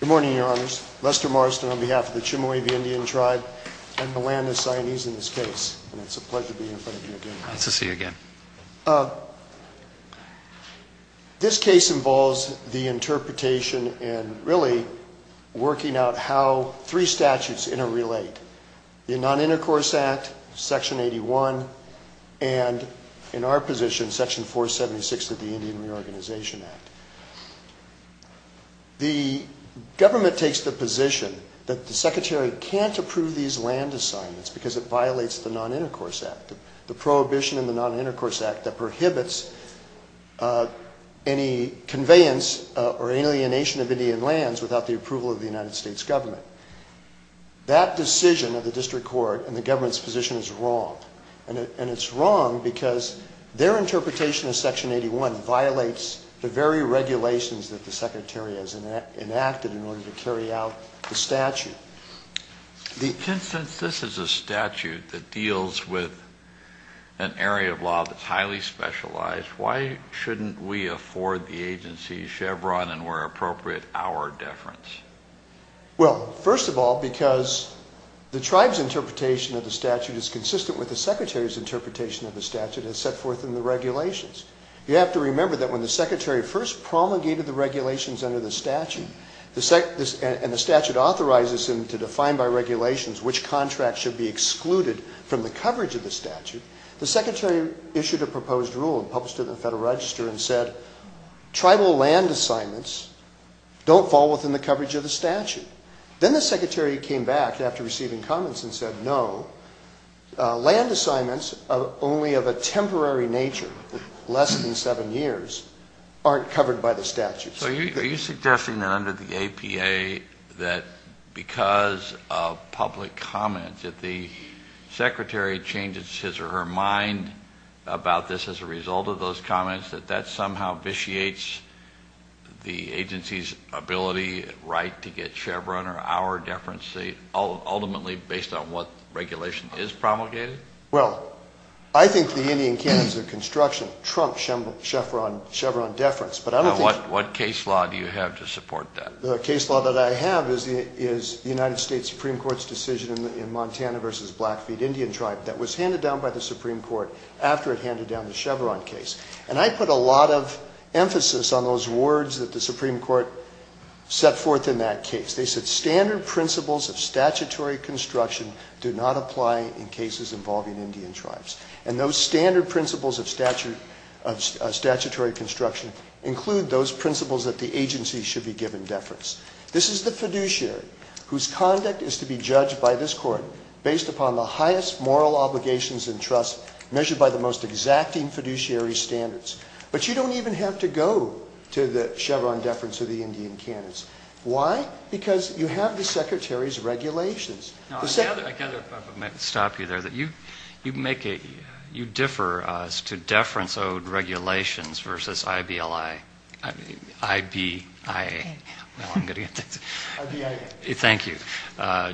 Good morning, your honors. Lester Marston on behalf of the Chemehuevi Indian Tribe and the land of Sionese in this case. And it's a pleasure to be in front of you again. Nice to see you again. This case involves the interpretation and really working out how three statutes interrelate. The Non-Intercourse Act, Section 81, and in our position, Section 476 of the Indian Reorganization Act. The government takes the position that the Secretary can't approve these land assignments because it violates the Non-Intercourse Act. The prohibition in the Non-Intercourse Act that prohibits any conveyance or alienation of Indian lands without the approval of the United States government. That decision of the district court and the government's position is wrong. And it's wrong because their interpretation of Section 81 violates the very regulations that the Secretary has enacted in order to carry out the statute. Since this is a statute that deals with an area of law that's highly specialized, why shouldn't we afford the agency Chevron and, where appropriate, our deference? Well, first of all, because the tribe's interpretation of the statute is consistent with the Secretary's interpretation of the statute as set forth in the regulations. You have to remember that when the Secretary first promulgated the regulations under the statute, and the statute authorizes him to define by regulations which contracts should be excluded from the coverage of the statute, the Secretary issued a proposed rule and published it in the Federal Register and said, tribal land assignments don't fall within the coverage of the statute. Then the Secretary came back after receiving comments and said, no, land assignments only of a temporary nature, less than seven years, aren't covered by the statute. So are you suggesting that under the APA, that because of public comments, if the Secretary changes his or her mind about this as a result of those comments, that that somehow vitiates the agency's ability, right, to get Chevron or our deference ultimately based on what regulation is promulgated? Well, I think the Indian Cans of Construction trump Chevron deference. What case law do you have to support that? The case law that I have is the United States Supreme Court's decision in Montana v. Blackfeet Indian Tribe that was handed down by the Supreme Court after it handed down the Chevron case. And I put a lot of emphasis on those words that the Supreme Court set forth in that case. They said standard principles of statutory construction do not apply in cases involving Indian tribes. And those standard principles of statutory construction include those principles that the agency should be given deference. This is the fiduciary whose conduct is to be judged by this Court based upon the highest moral obligations and trust measured by the most exacting fiduciary standards. But you don't even have to go to the Chevron deference of the Indian Cans. Why? Because you have the Secretary's regulations. I've got to stop you there. You differ as to deference-owed regulations versus I-B-L-I. I-B-I-A. No, I'm kidding. I-B-I-A. Thank you.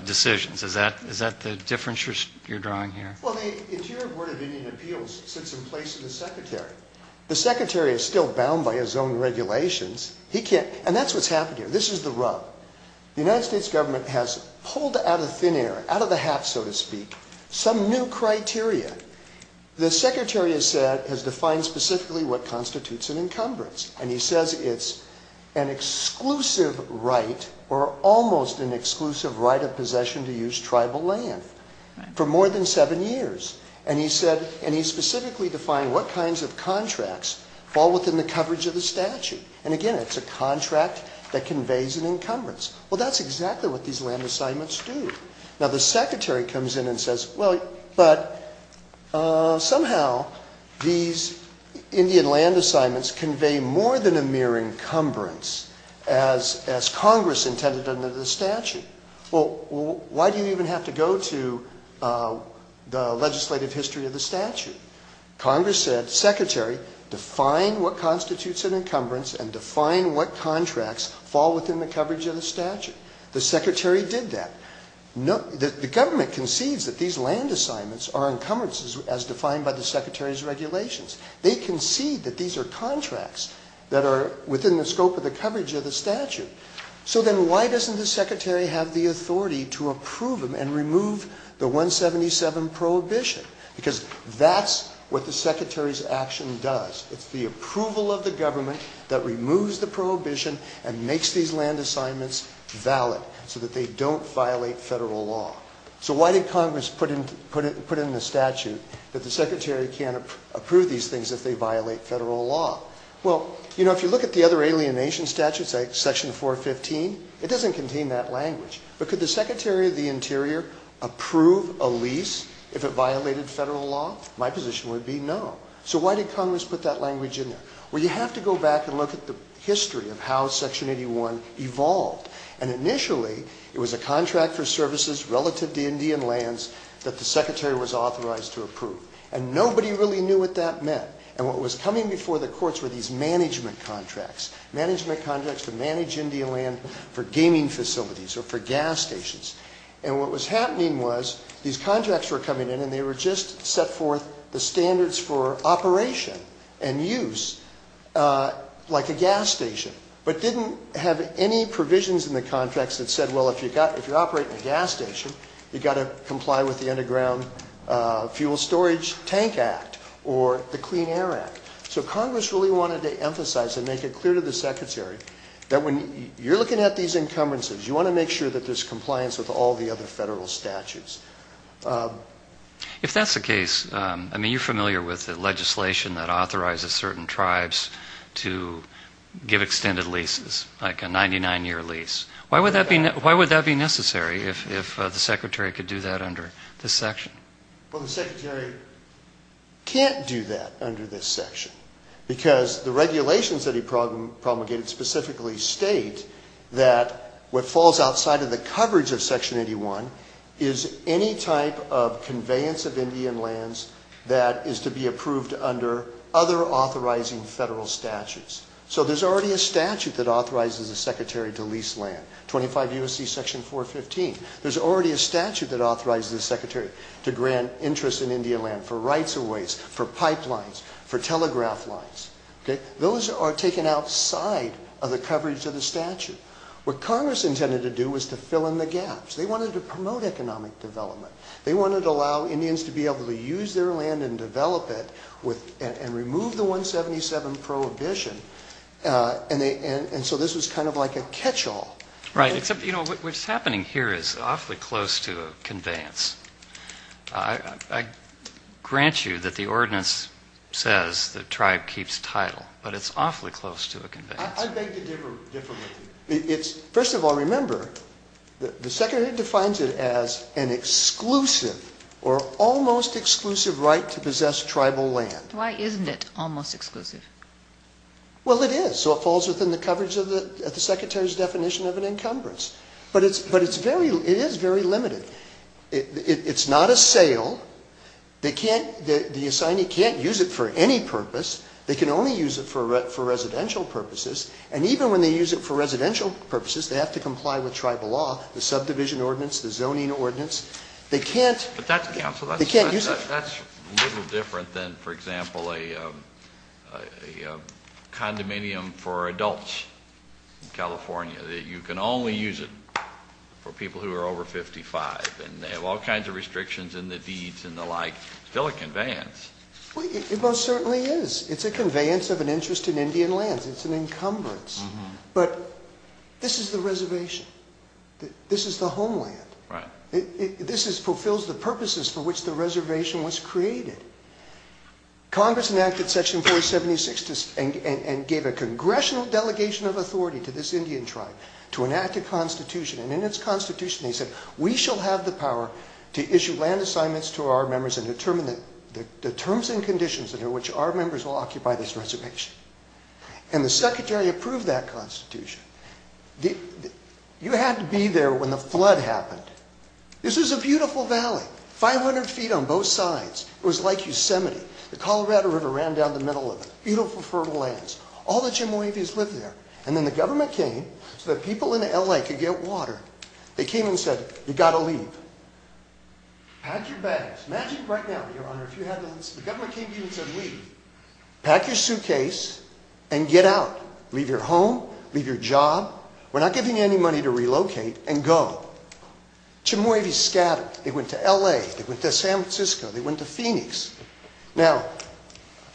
Decisions. Is that the difference you're drawing here? Well, the Interior Board of Indian Appeals sits in place of the Secretary. The Secretary is still bound by his own regulations. And that's what's happened here. This is the rub. The United States government has pulled out of thin air, out of the hat, so to speak, some new criteria. The Secretary has defined specifically what constitutes an encumbrance. And he says it's an exclusive right or almost an exclusive right of possession to use tribal land for more than seven years. And he specifically defined what kinds of contracts fall within the coverage of the statute. And, again, it's a contract that conveys an encumbrance. Well, that's exactly what these land assignments do. Now, the Secretary comes in and says, well, but somehow these Indian land assignments convey more than a mere encumbrance as Congress intended under the statute. Well, why do you even have to go to the legislative history of the statute? Congress said, Secretary, define what constitutes an encumbrance and define what contracts fall within the coverage of the statute. The Secretary did that. The government concedes that these land assignments are encumbrances as defined by the Secretary's regulations. They concede that these are contracts that are within the scope of the coverage of the statute. So then why doesn't the Secretary have the authority to approve them and remove the 177 prohibition? Because that's what the Secretary's action does. It's the approval of the government that removes the prohibition and makes these land assignments valid so that they don't violate federal law. So why did Congress put in the statute that the Secretary can't approve these things if they violate federal law? Well, you know, if you look at the other alienation statutes, like Section 415, it doesn't contain that language. But could the Secretary of the Interior approve a lease if it violated federal law? My position would be no. So why did Congress put that language in there? Well, you have to go back and look at the history of how Section 81 evolved. And initially, it was a contract for services relative to Indian lands that the Secretary was authorized to approve. And nobody really knew what that meant. And what was coming before the courts were these management contracts, management contracts to manage Indian land for gaming facilities or for gas stations. And what was happening was these contracts were coming in, and they were just set forth the standards for operation and use, like a gas station, but didn't have any provisions in the contracts that said, well, if you're operating a gas station, you've got to comply with the Underground Fuel Storage Tank Act or the Clean Air Act. So Congress really wanted to emphasize and make it clear to the Secretary that when you're looking at these encumbrances, you want to make sure that there's compliance with all the other federal statutes. If that's the case, I mean, you're familiar with the legislation that authorizes certain tribes to give extended leases, like a 99-year lease. Why would that be necessary if the Secretary could do that under this section? Well, the Secretary can't do that under this section because the regulations that he promulgated specifically state that what falls outside of the coverage of Section 81 is any type of conveyance of Indian lands that is to be approved under other authorizing federal statutes. So there's already a statute that authorizes the Secretary to lease land, 25 U.S.C. Section 415. There's already a statute that authorizes the Secretary to grant interest in Indian land for rights of ways, for pipelines, for telegraph lines. Those are taken outside of the coverage of the statute. What Congress intended to do was to fill in the gaps. They wanted to promote economic development. They wanted to allow Indians to be able to use their land and develop it and remove the 177 prohibition. And so this was kind of like a catch-all. Right, except, you know, what's happening here is awfully close to a conveyance. I grant you that the ordinance says the tribe keeps title, but it's awfully close to a conveyance. I beg to differ with you. First of all, remember, the Secretary defines it as an exclusive or almost exclusive right to possess tribal land. Why isn't it almost exclusive? Well, it is. So it falls within the coverage of the Secretary's definition of an encumbrance. But it is very limited. It's not a sale. The assignee can't use it for any purpose. They can only use it for residential purposes. And even when they use it for residential purposes, they have to comply with tribal law, the subdivision ordinance, the zoning ordinance. They can't use it. But that's a little different than, for example, a condominium for adults in California. You can only use it for people who are over 55. And they have all kinds of restrictions in the deeds and the like. It's still a conveyance. It most certainly is. It's a conveyance of an interest in Indian lands. It's an encumbrance. But this is the reservation. This is the homeland. This fulfills the purposes for which the reservation was created. Congress enacted Section 476 and gave a congressional delegation of authority to this Indian tribe to enact a constitution. And in its constitution, they said, we shall have the power to issue land assignments to our members and determine the terms and conditions under which our members will occupy this reservation. And the secretary approved that constitution. You had to be there when the flood happened. This is a beautiful valley, 500 feet on both sides. It was like Yosemite. The Colorado River ran down the middle of it. Beautiful, fertile lands. All the Chemehuevis lived there. And then the government came so that people in L.A. could get water. They came and said, you've got to leave. Pack your bags. Imagine right now, Your Honor, if you had to leave. The government came to you and said, leave. Pack your suitcase and get out. Leave your home. Leave your job. We're not giving you any money to relocate and go. Chemehuevis scattered. They went to L.A. They went to San Francisco. They went to Phoenix. Now,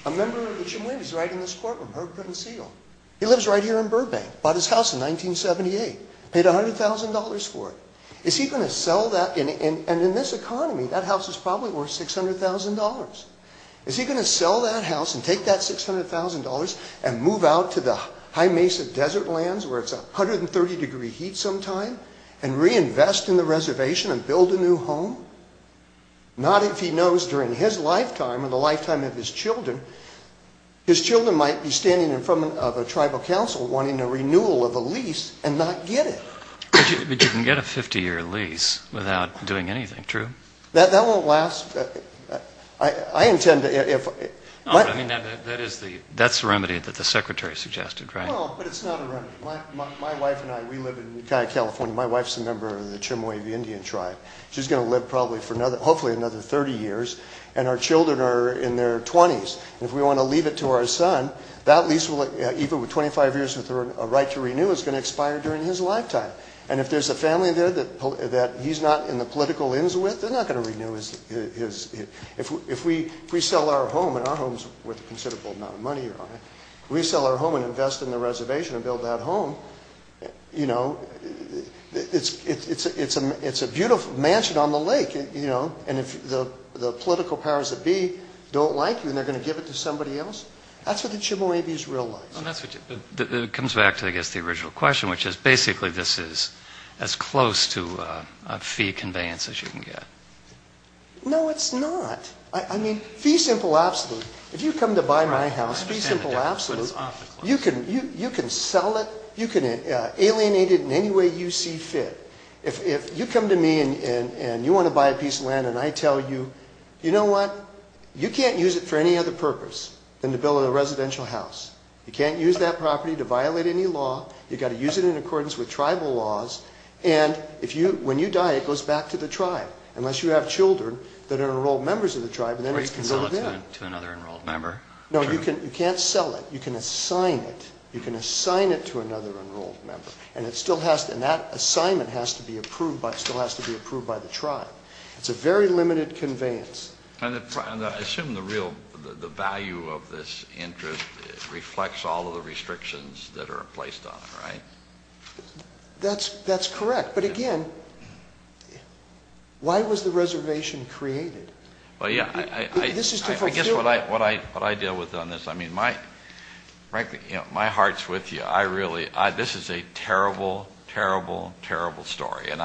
a member of the Chemehuevis right in this courtroom, Herb Pruden-Segal, he lives right here in Burbank. Bought his house in 1978. Paid $100,000 for it. Is he going to sell that? And in this economy, that house is probably worth $600,000. Is he going to sell that house and take that $600,000 and move out to the high mesa desert lands where it's 130 degree heat sometime and reinvest in the reservation and build a new home? Not if he knows during his lifetime and the lifetime of his children, his children might be standing in front of a tribal council wanting a renewal of a lease and not get it. But you can get a 50-year lease without doing anything, true? That won't last. I intend to. That's the remedy that the secretary suggested, right? No, but it's not a remedy. My wife and I, we live in Ukiah, California. My wife's a member of the Chemehuevi Indian tribe. She's going to live probably for hopefully another 30 years. And our children are in their 20s. And if we want to leave it to our son, that lease, even with 25 years with a right to renew, is going to expire during his lifetime. And if there's a family there that he's not in the political ends with, they're not going to renew his. If we sell our home, and our home's worth a considerable amount of money, if we sell our home and invest in the reservation and build that home, you know, it's a beautiful mansion on the lake, you know. And if the political powers that be don't like you and they're going to give it to somebody else, that's what the Chemehuevi's real life. It comes back to, I guess, the original question, which is basically this is as close to a fee conveyance as you can get. No, it's not. I mean, fee simple absolute. If you come to buy my house, fee simple absolute, you can sell it, you can alienate it in any way you see fit. If you come to me and you want to buy a piece of land and I tell you, you know what? You can't use it for any other purpose than to build a residential house. You can't use that property to violate any law. You've got to use it in accordance with tribal laws. And if you, when you die, it goes back to the tribe, unless you have children that are enrolled members of the tribe. Or you can sell it to another enrolled member. No, you can't sell it. You can assign it. You can assign it to another enrolled member. And that assignment still has to be approved by the tribe. It's a very limited conveyance. I assume the value of this interest reflects all of the restrictions that are placed on it, right? That's correct. But again, why was the reservation created? I guess what I deal with on this, I mean, frankly, my heart's with you. I really, this is a terrible, terrible, terrible story. And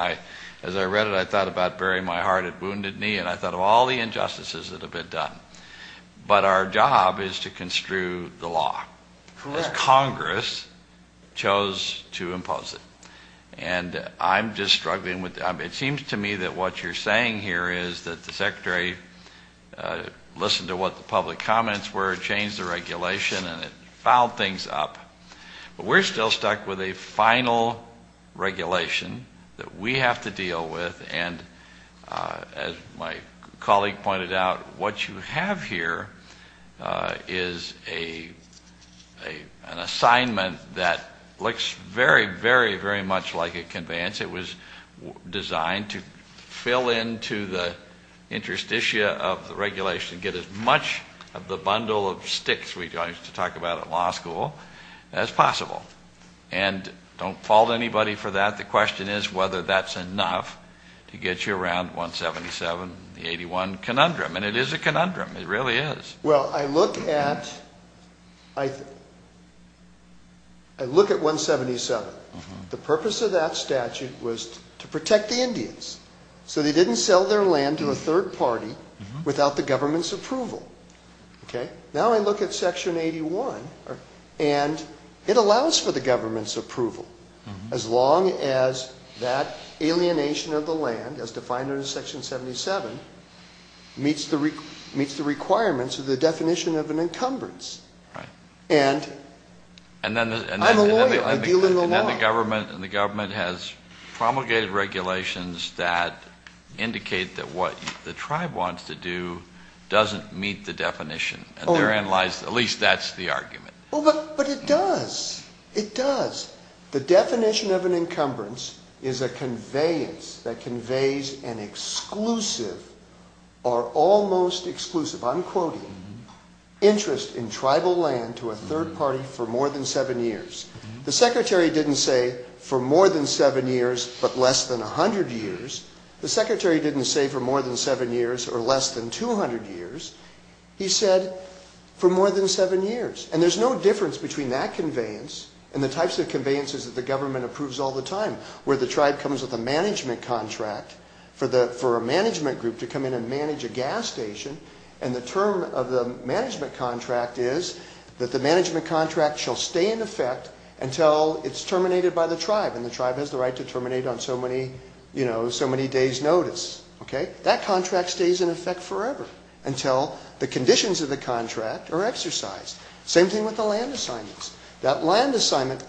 as I read it, I thought about burying my heart at wounded knee, and I thought of all the injustices that have been done. But our job is to construe the law. Correct. As Congress chose to impose it. And I'm just struggling with it. It seems to me that what you're saying here is that the Secretary listened to what the public comments were, changed the regulation, and it fouled things up. But we're still stuck with a final regulation that we have to deal with. And as my colleague pointed out, what you have here is an assignment that looks very, very, very much like a conveyance. It was designed to fill into the interstitia of the regulation, get as much of the bundle of sticks we used to talk about at law school as possible. And don't fault anybody for that. The question is whether that's enough to get you around 177, the 81 conundrum. And it is a conundrum. It really is. Well, I look at 177. The purpose of that statute was to protect the Indians so they didn't sell their land to a third party without the government's approval. Now I look at Section 81, and it allows for the government's approval as long as that alienation of the land, as defined under Section 77, meets the requirements of the definition of an encumbrance. And I'm a lawyer. And the government has promulgated regulations that indicate that what the tribe wants to do doesn't meet the definition. At least that's the argument. But it does. It does. The definition of an encumbrance is a conveyance that conveys an exclusive or almost exclusive, I'm quoting, interest in tribal land to a third party for more than seven years. The secretary didn't say for more than seven years but less than 100 years. The secretary didn't say for more than seven years or less than 200 years. He said for more than seven years. And there's no difference between that conveyance and the types of conveyances that the government approves all the time, where the tribe comes with a management contract for a management group to come in and manage a gas station. And the term of the management contract is that the management contract shall stay in effect until it's terminated by the tribe. And the tribe has the right to terminate on so many days' notice. That contract stays in effect forever until the conditions of the contract are exercised. Same thing with the land assignments. That land assignment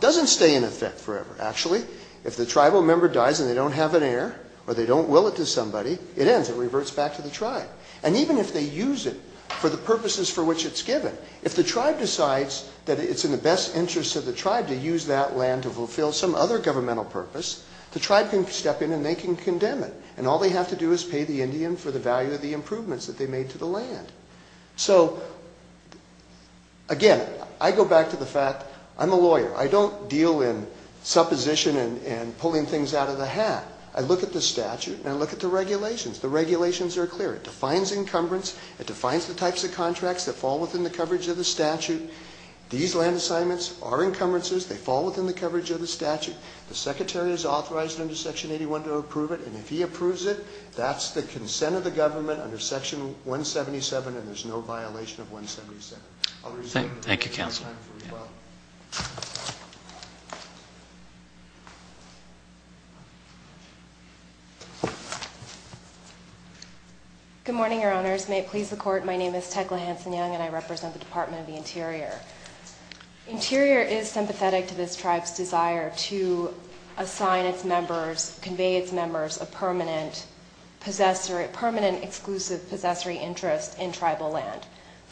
doesn't stay in effect forever. Actually, if the tribal member dies and they don't have an heir or they don't will it to somebody, it ends. It reverts back to the tribe. And even if they use it for the purposes for which it's given, if the tribe decides that it's in the best interest of the tribe to use that land to fulfill some other governmental purpose, the tribe can step in and they can condemn it. And all they have to do is pay the Indian for the value of the improvements that they made to the land. So, again, I go back to the fact I'm a lawyer. I don't deal in supposition and pulling things out of the hat. I look at the statute and I look at the regulations. The regulations are clear. It defines encumbrance. It defines the types of contracts that fall within the coverage of the statute. These land assignments are encumbrances. They fall within the coverage of the statute. The secretary is authorized under Section 81 to approve it. And if he approves it, that's the consent of the government under Section 177 and there's no violation of 177. Thank you, Counsel. Good morning, Your Honors. May it please the Court, my name is Tecla Hanson-Young and I represent the Department of the Interior. Interior is sympathetic to this tribe's desire to assign its members, convey its members a permanent exclusive possessory interest in tribal land.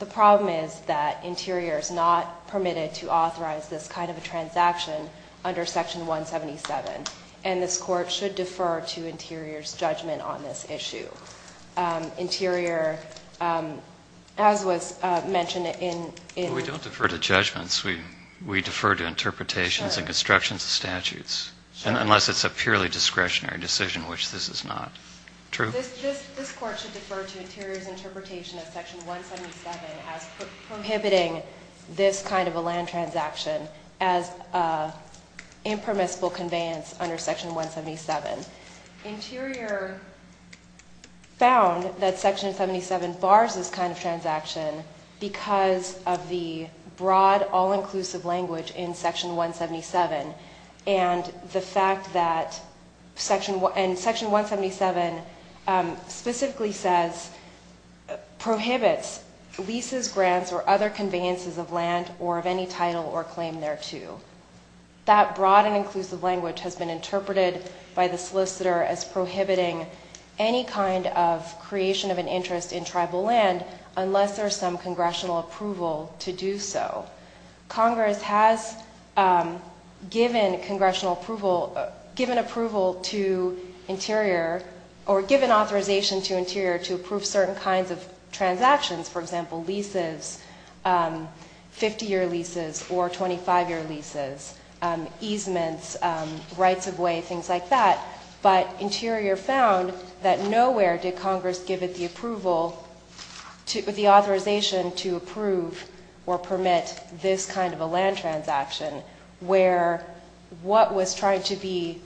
The problem is that Interior is not permitted to authorize this kind of a transaction under Section 177 and this Court should defer to Interior's judgment on this issue. Interior, as was mentioned in... We don't defer to judgments. We defer to interpretations and constructions of statutes. Sure. Unless it's a purely discretionary decision, which this is not. True? This Court should defer to Interior's interpretation of Section 177 as prohibiting this kind of a land transaction as impermissible conveyance under Section 177. Interior found that Section 177 bars this kind of transaction because of the broad, all-inclusive language in Section 177 and the fact that Section 177 specifically says, prohibits leases, grants, or other conveyances of land or of any title or claim thereto. That broad and inclusive language has been interpreted by the solicitor as prohibiting any kind of creation of an interest in tribal land unless there's some congressional approval to do so. Congress has given congressional approval, given approval to Interior, or given authorization to Interior to approve certain kinds of transactions, for example, leases, 50-year leases or 25-year leases, easements, rights-of-way, things like that. But Interior found that nowhere did Congress give it the approval, the authorization to approve or permit this kind of a land transaction where what was trying to be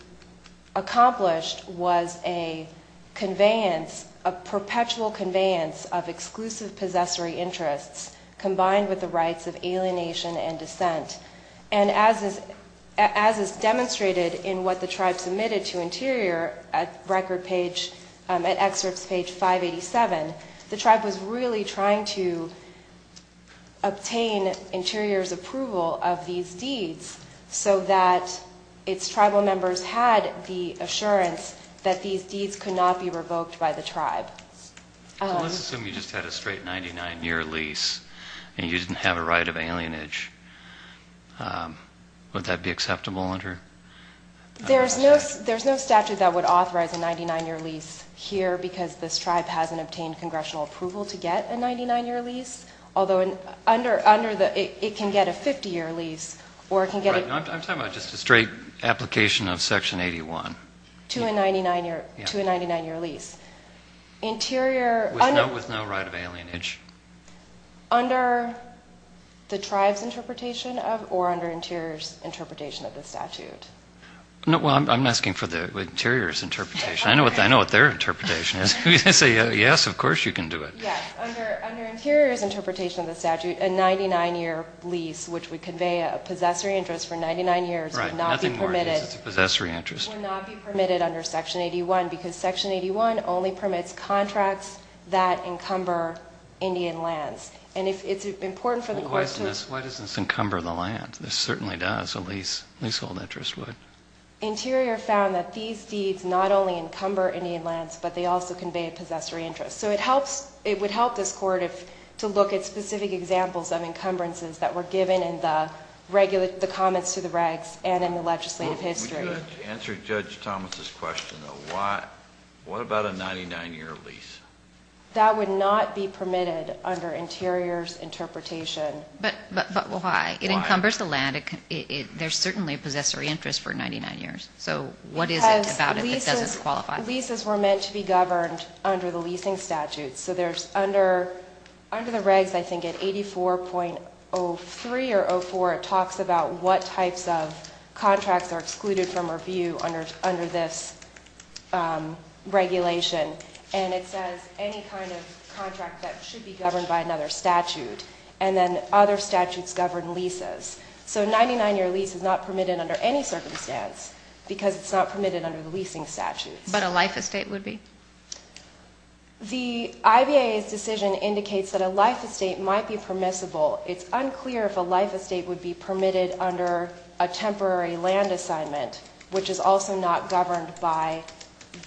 accomplished was a conveyance, a perpetual conveyance of exclusive possessory interests combined with the rights of alienation and dissent. And as is demonstrated in what the tribe submitted to Interior at record page, at excerpts page 587, the tribe was really trying to obtain Interior's approval of these deeds so that its tribal members had the assurance that these deeds could not be revoked by the tribe. So let's assume you just had a straight 99-year lease and you didn't have a right of alienage. Would that be acceptable under the statute? There's no statute that would authorize a 99-year lease here because this tribe hasn't obtained congressional approval to get a 99-year lease, although it can get a 50-year lease or it can get a 99-year lease. I'm talking about just a straight application of Section 81. To a 99-year lease. With no right of alienage. Under the tribe's interpretation or under Interior's interpretation of the statute. Well, I'm asking for Interior's interpretation. I know what their interpretation is. If you say yes, of course you can do it. Yes, under Interior's interpretation of the statute, a 99-year lease, which would convey a possessory interest for 99 years, would not be permitted under Section 81 because Section 81 only permits contracts that encumber Indian lands. Why doesn't this encumber the land? This certainly does, a leasehold interest would. Interior found that these deeds not only encumber Indian lands, but they also convey a possessory interest. So it would help this Court to look at specific examples of encumbrances that were given in the comments to the regs and in the legislative history. To answer Judge Thomas' question, what about a 99-year lease? That would not be permitted under Interior's interpretation. But why? It encumbers the land. There's certainly a possessory interest for 99 years. So what is it about it that doesn't qualify? Leases were meant to be governed under the leasing statutes. So under the regs, I think at 84.03 or 84, it talks about what types of contracts are excluded from review under this regulation. And it says any kind of contract that should be governed by another statute. And then other statutes govern leases. So a 99-year lease is not permitted under any circumstance because it's not permitted under the leasing statutes. But a life estate would be? The IBA's decision indicates that a life estate might be permissible. It's unclear if a life estate would be permitted under a temporary land assignment, which is also not governed by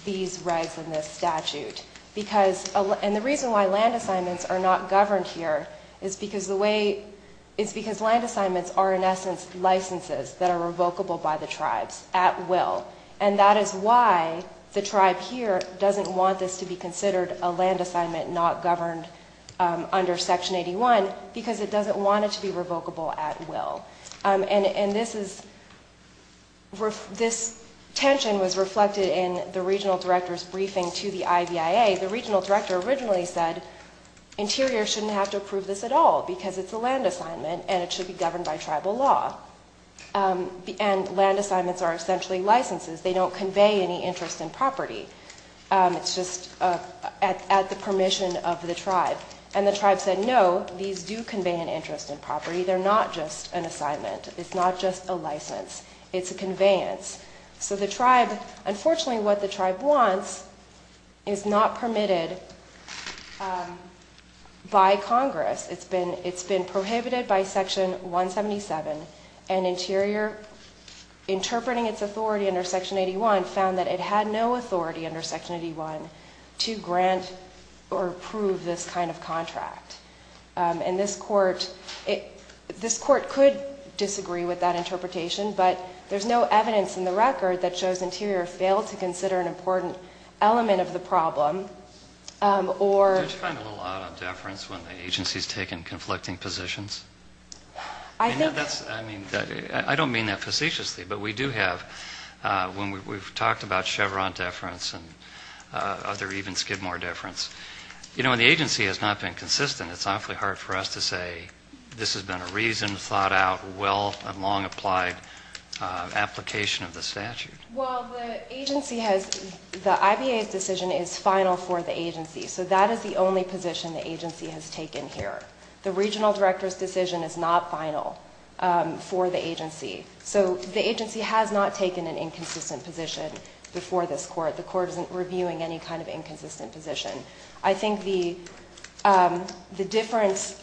these regs and this statute. And the reason why land assignments are not governed here is because land assignments are, in essence, licenses that are revocable by the tribes at will. And that is why the tribe here doesn't want this to be considered a land assignment not governed under Section 81 because it doesn't want it to be revocable at will. And this tension was reflected in the regional director's briefing to the IVIA. The regional director originally said interiors shouldn't have to approve this at all because it's a land assignment and it should be governed by tribal law. And land assignments are essentially licenses. They don't convey any interest in property. It's just at the permission of the tribe. And the tribe said no, these do convey an interest in property. They're not just an assignment. It's not just a license. It's a conveyance. So the tribe, unfortunately what the tribe wants is not permitted by Congress. It's been prohibited by Section 177. And Interior, interpreting its authority under Section 81, found that it had no authority under Section 81 to grant or approve this kind of contract. And this Court could disagree with that interpretation, but there's no evidence in the record that shows Interior failed to consider an important element of the problem. Did you find a little out of deference when the agency's taken conflicting positions? I don't mean that facetiously, but we do have. When we've talked about Chevron deference and other even Skidmore deference, when the agency has not been consistent, it's awfully hard for us to say this has been a reason, thought out, well and long applied application of the statute. Well, the agency has, the IBA's decision is final for the agency. So that is the only position the agency has taken here. The regional director's decision is not final for the agency. So the agency has not taken an inconsistent position before this Court. The Court isn't reviewing any kind of inconsistent position. I think the difference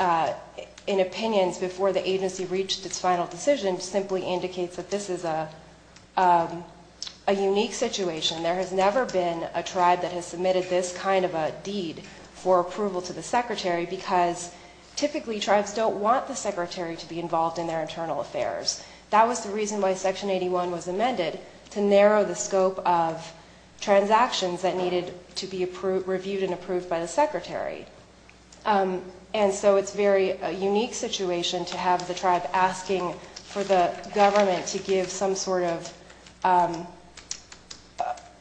in opinions before the agency reached its final decision simply indicates that this is a unique situation. There has never been a tribe that has submitted this kind of a deed for approval to the secretary because typically tribes don't want the secretary to be involved in their internal affairs. That was the reason why Section 81 was amended, to narrow the scope of transactions that needed to be reviewed and approved by the secretary. And so it's a very unique situation to have the tribe asking for the government to give some sort of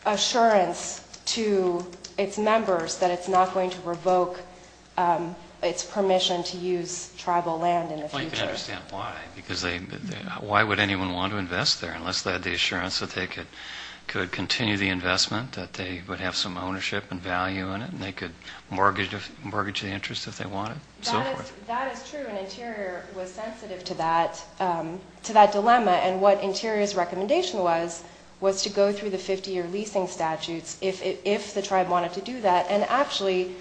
assurance to its members that it's not going to revoke its permission to use tribal land in the future. Well, you can understand why, because why would anyone want to invest there unless they had the assurance that they could continue the investment, that they would have some ownership and value in it, and they could mortgage the interest if they wanted, and so forth. That is true, and Interior was sensitive to that dilemma. And what Interior's recommendation was, was to go through the 50-year leasing statutes if the tribe wanted to do that. And actually,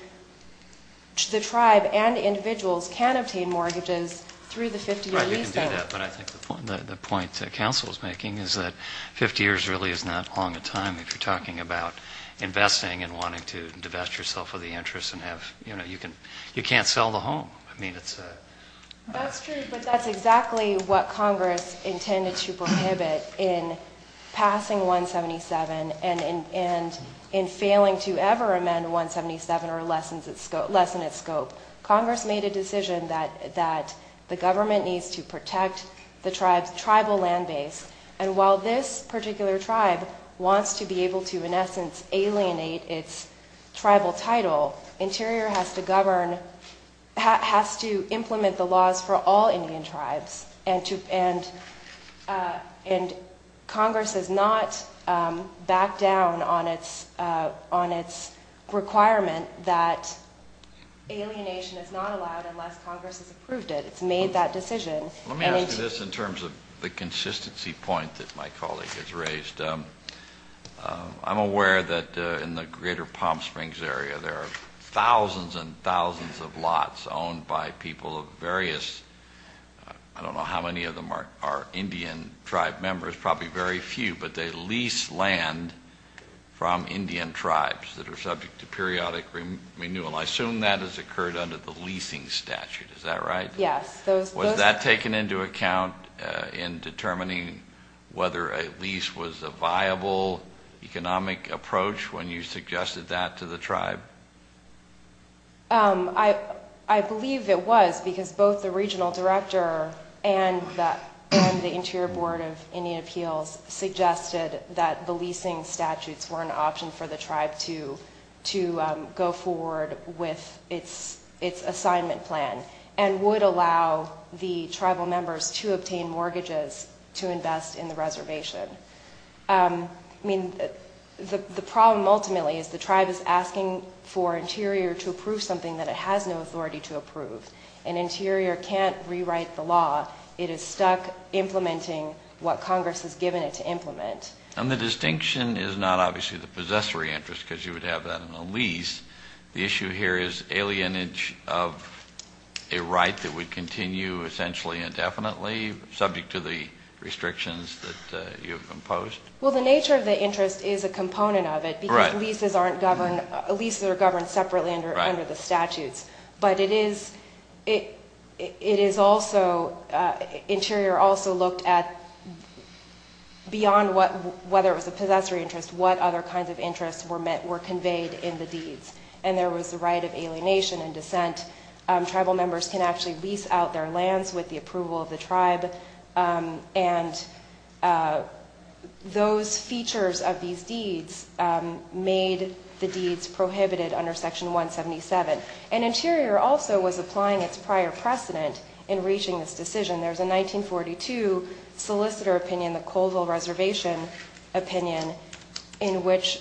the tribe and individuals can obtain mortgages through the 50-year leasing. Right, you can do that. But I think the point that counsel is making is that 50 years really is not long a time if you're talking about investing and wanting to divest yourself of the interest and have, you know, you can't sell the home. I mean, it's a... That's true, but that's exactly what Congress intended to prohibit in passing 177 and in failing to ever amend 177 or lessen its scope. Congress made a decision that the government needs to protect the tribe's tribal land base. And while this particular tribe wants to be able to, in essence, alienate its tribal title, Interior has to govern, has to implement the laws for all Indian tribes, and Congress has not backed down on its requirement that alienation is not allowed unless Congress has approved it. It's made that decision. Let me ask you this in terms of the consistency point that my colleague has raised. I'm aware that in the greater Palm Springs area there are thousands and thousands of lots owned by people of various, I don't know how many of them are Indian tribe members, probably very few, but they lease land from Indian tribes that are subject to periodic renewal. I assume that has occurred under the leasing statute. Is that right? Yes. Was that taken into account in determining whether a lease was a viable economic approach when you suggested that to the tribe? I believe it was because both the regional director and the Interior Board of Indian Appeals suggested that the leasing statutes were an option for the tribe to go forward with its assignment plan and would allow the tribal members to obtain mortgages to invest in the reservation. I mean, the problem ultimately is the tribe is asking for Interior to approve something that it has no authority to approve, and Interior can't rewrite the law. It is stuck implementing what Congress has given it to implement. And the distinction is not obviously the possessory interest because you would have that in a lease. The issue here is alienage of a right that would continue essentially indefinitely, subject to the restrictions that you have imposed. Well, the nature of the interest is a component of it because leases aren't governed, leases are governed separately under the statutes. But it is also, Interior also looked at, beyond whether it was a possessory interest, what other kinds of interests were conveyed in the deeds. And there was the right of alienation and dissent. Tribal members can actually lease out their lands with the approval of the tribe. And those features of these deeds made the deeds prohibited under Section 177. And Interior also was applying its prior precedent in reaching this decision. There's a 1942 solicitor opinion, the Colville Reservation opinion, in which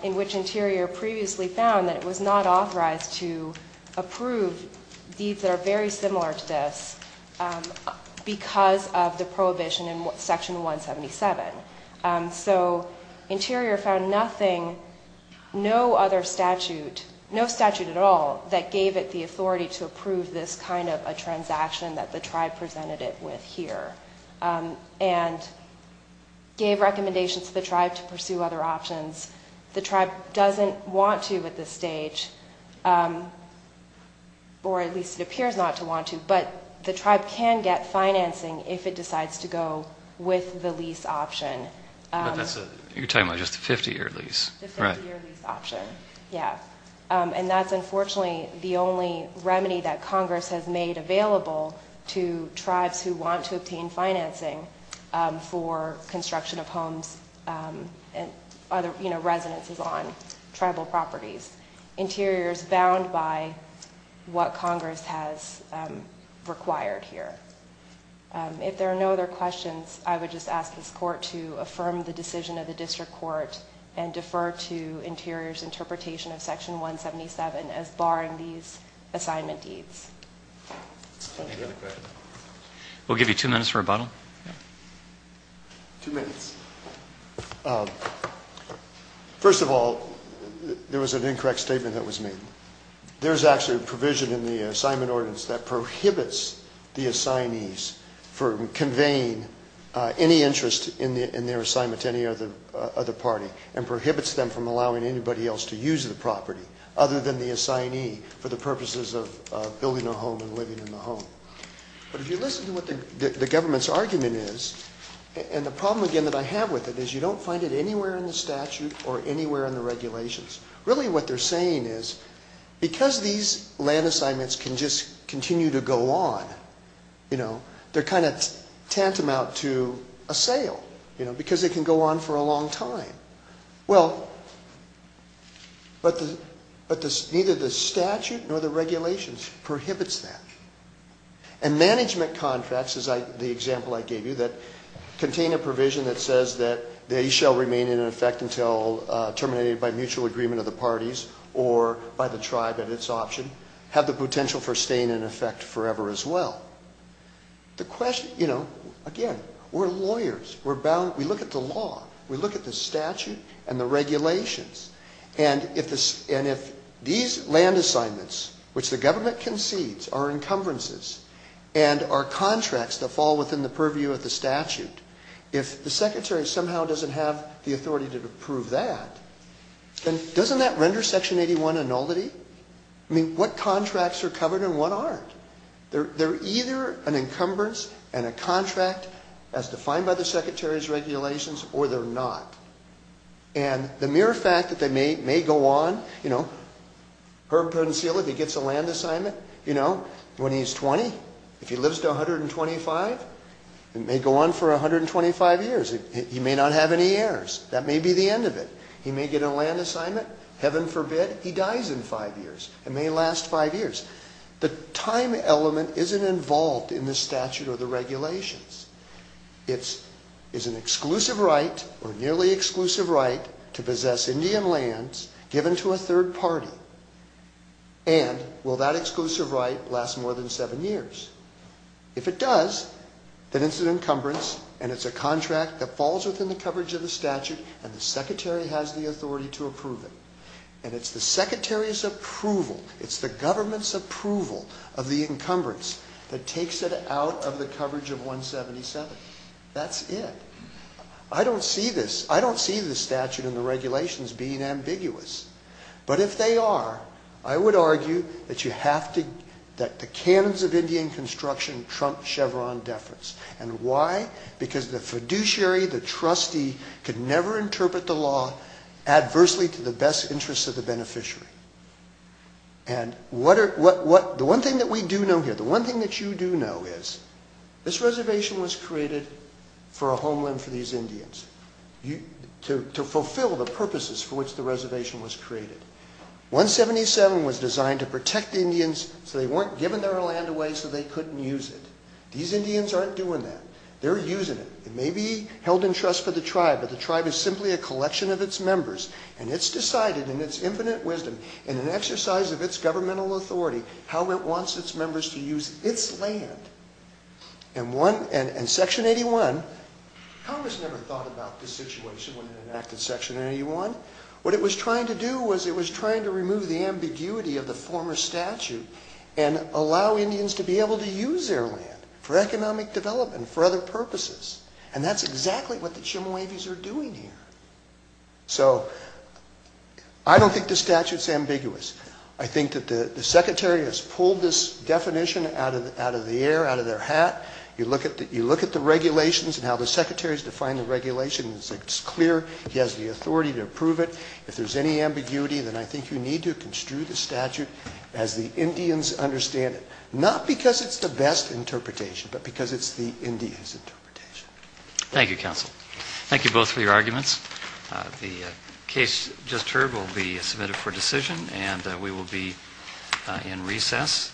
Interior previously found that it was not authorized to approve deeds that are very similar to this because of the prohibition in Section 177. So Interior found nothing, no other statute, no statute at all, that gave it the authority to approve this kind of a transaction that the tribe presented it with here and gave recommendations to the tribe to pursue other options. The tribe doesn't want to at this stage, or at least it appears not to want to, but the tribe can get financing if it decides to go with the lease option. You're talking about just the 50-year lease. The 50-year lease option, yeah. And that's unfortunately the only remedy that Congress has made available to tribes who want to obtain financing for construction of homes and other residences on tribal properties. Interior is bound by what Congress has required here. If there are no other questions, I would just ask this Court to affirm the decision of the District Court and defer to Interior's interpretation of Section 177 as barring these assignment deeds. Any other questions? We'll give you two minutes for rebuttal. Two minutes. First of all, there was an incorrect statement that was made. There is actually a provision in the assignment ordinance that prohibits the assignees from conveying any interest in their assignment to any other party and prohibits them from allowing anybody else to use the property other than the assignee for the purposes of building a home and living in the home. But if you listen to what the government's argument is, and the problem again that I have with it is you don't find it anywhere in the statute or anywhere in the regulations. Really what they're saying is because these land assignments can just continue to go on, they're kind of tantamount to a sale because they can go on for a long time. Well, but neither the statute nor the regulations prohibits that. And management contracts, as the example I gave you, that contain a provision that says that they shall remain in effect until terminated by mutual agreement of the parties or by the tribe at its option have the potential for staying in effect forever as well. The question, you know, again, we're lawyers. We're bound. We look at the law. We look at the statute and the regulations. And if these land assignments, which the government concedes are encumbrances, and are contracts that fall within the purview of the statute, if the secretary somehow doesn't have the authority to approve that, then doesn't that render Section 81 a nullity? I mean, what contracts are covered and what aren't? They're either an encumbrance and a contract as defined by the secretary's regulations or they're not. And the mere fact that they may go on, you know, Herb Peninsula, if he gets a land assignment, you know, when he's 20, if he lives to 125, it may go on for 125 years. He may not have any heirs. That may be the end of it. He may get a land assignment. Heaven forbid he dies in five years. It may last five years. The time element isn't involved in the statute or the regulations. It is an exclusive right or nearly exclusive right to possess Indian lands given to a third party. And will that exclusive right last more than seven years? If it does, then it's an encumbrance and it's a contract that falls within the coverage of the statute and the secretary has the authority to approve it. And it's the secretary's approval, it's the government's approval of the encumbrance that takes it out of the coverage of 177. That's it. I don't see this statute and the regulations being ambiguous. But if they are, I would argue that the canons of Indian construction trump Chevron deference. And why? Because the fiduciary, the trustee, could never interpret the law adversely to the best interests of the beneficiary. And the one thing that we do know here, the one thing that you do know is this reservation was created for a homeland for these Indians, to fulfill the purposes for which the reservation was created. 177 was designed to protect the Indians so they weren't given their land away so they couldn't use it. These Indians aren't doing that. They're using it. It may be held in trust for the tribe, but the tribe is simply a collection of its members. And it's decided in its infinite wisdom, in an exercise of its governmental authority, how it wants its members to use its land. And Section 81, Congress never thought about this situation when they enacted Section 81. What it was trying to do was it was trying to remove the ambiguity of the former statute and allow Indians to be able to use their land for economic development, for other purposes. And that's exactly what the Chemehuevis are doing here. So I don't think the statute's ambiguous. I think that the Secretary has pulled this definition out of the air, out of their hat. You look at the regulations and how the Secretary has defined the regulations. It's clear he has the authority to approve it. If there's any ambiguity, then I think you need to construe the statute as the Indians understand it, not because it's the best interpretation, but because it's the Indians' interpretation. Thank you, Counsel. Thank you both for your arguments. The case just heard will be submitted for decision, and we will be in recess.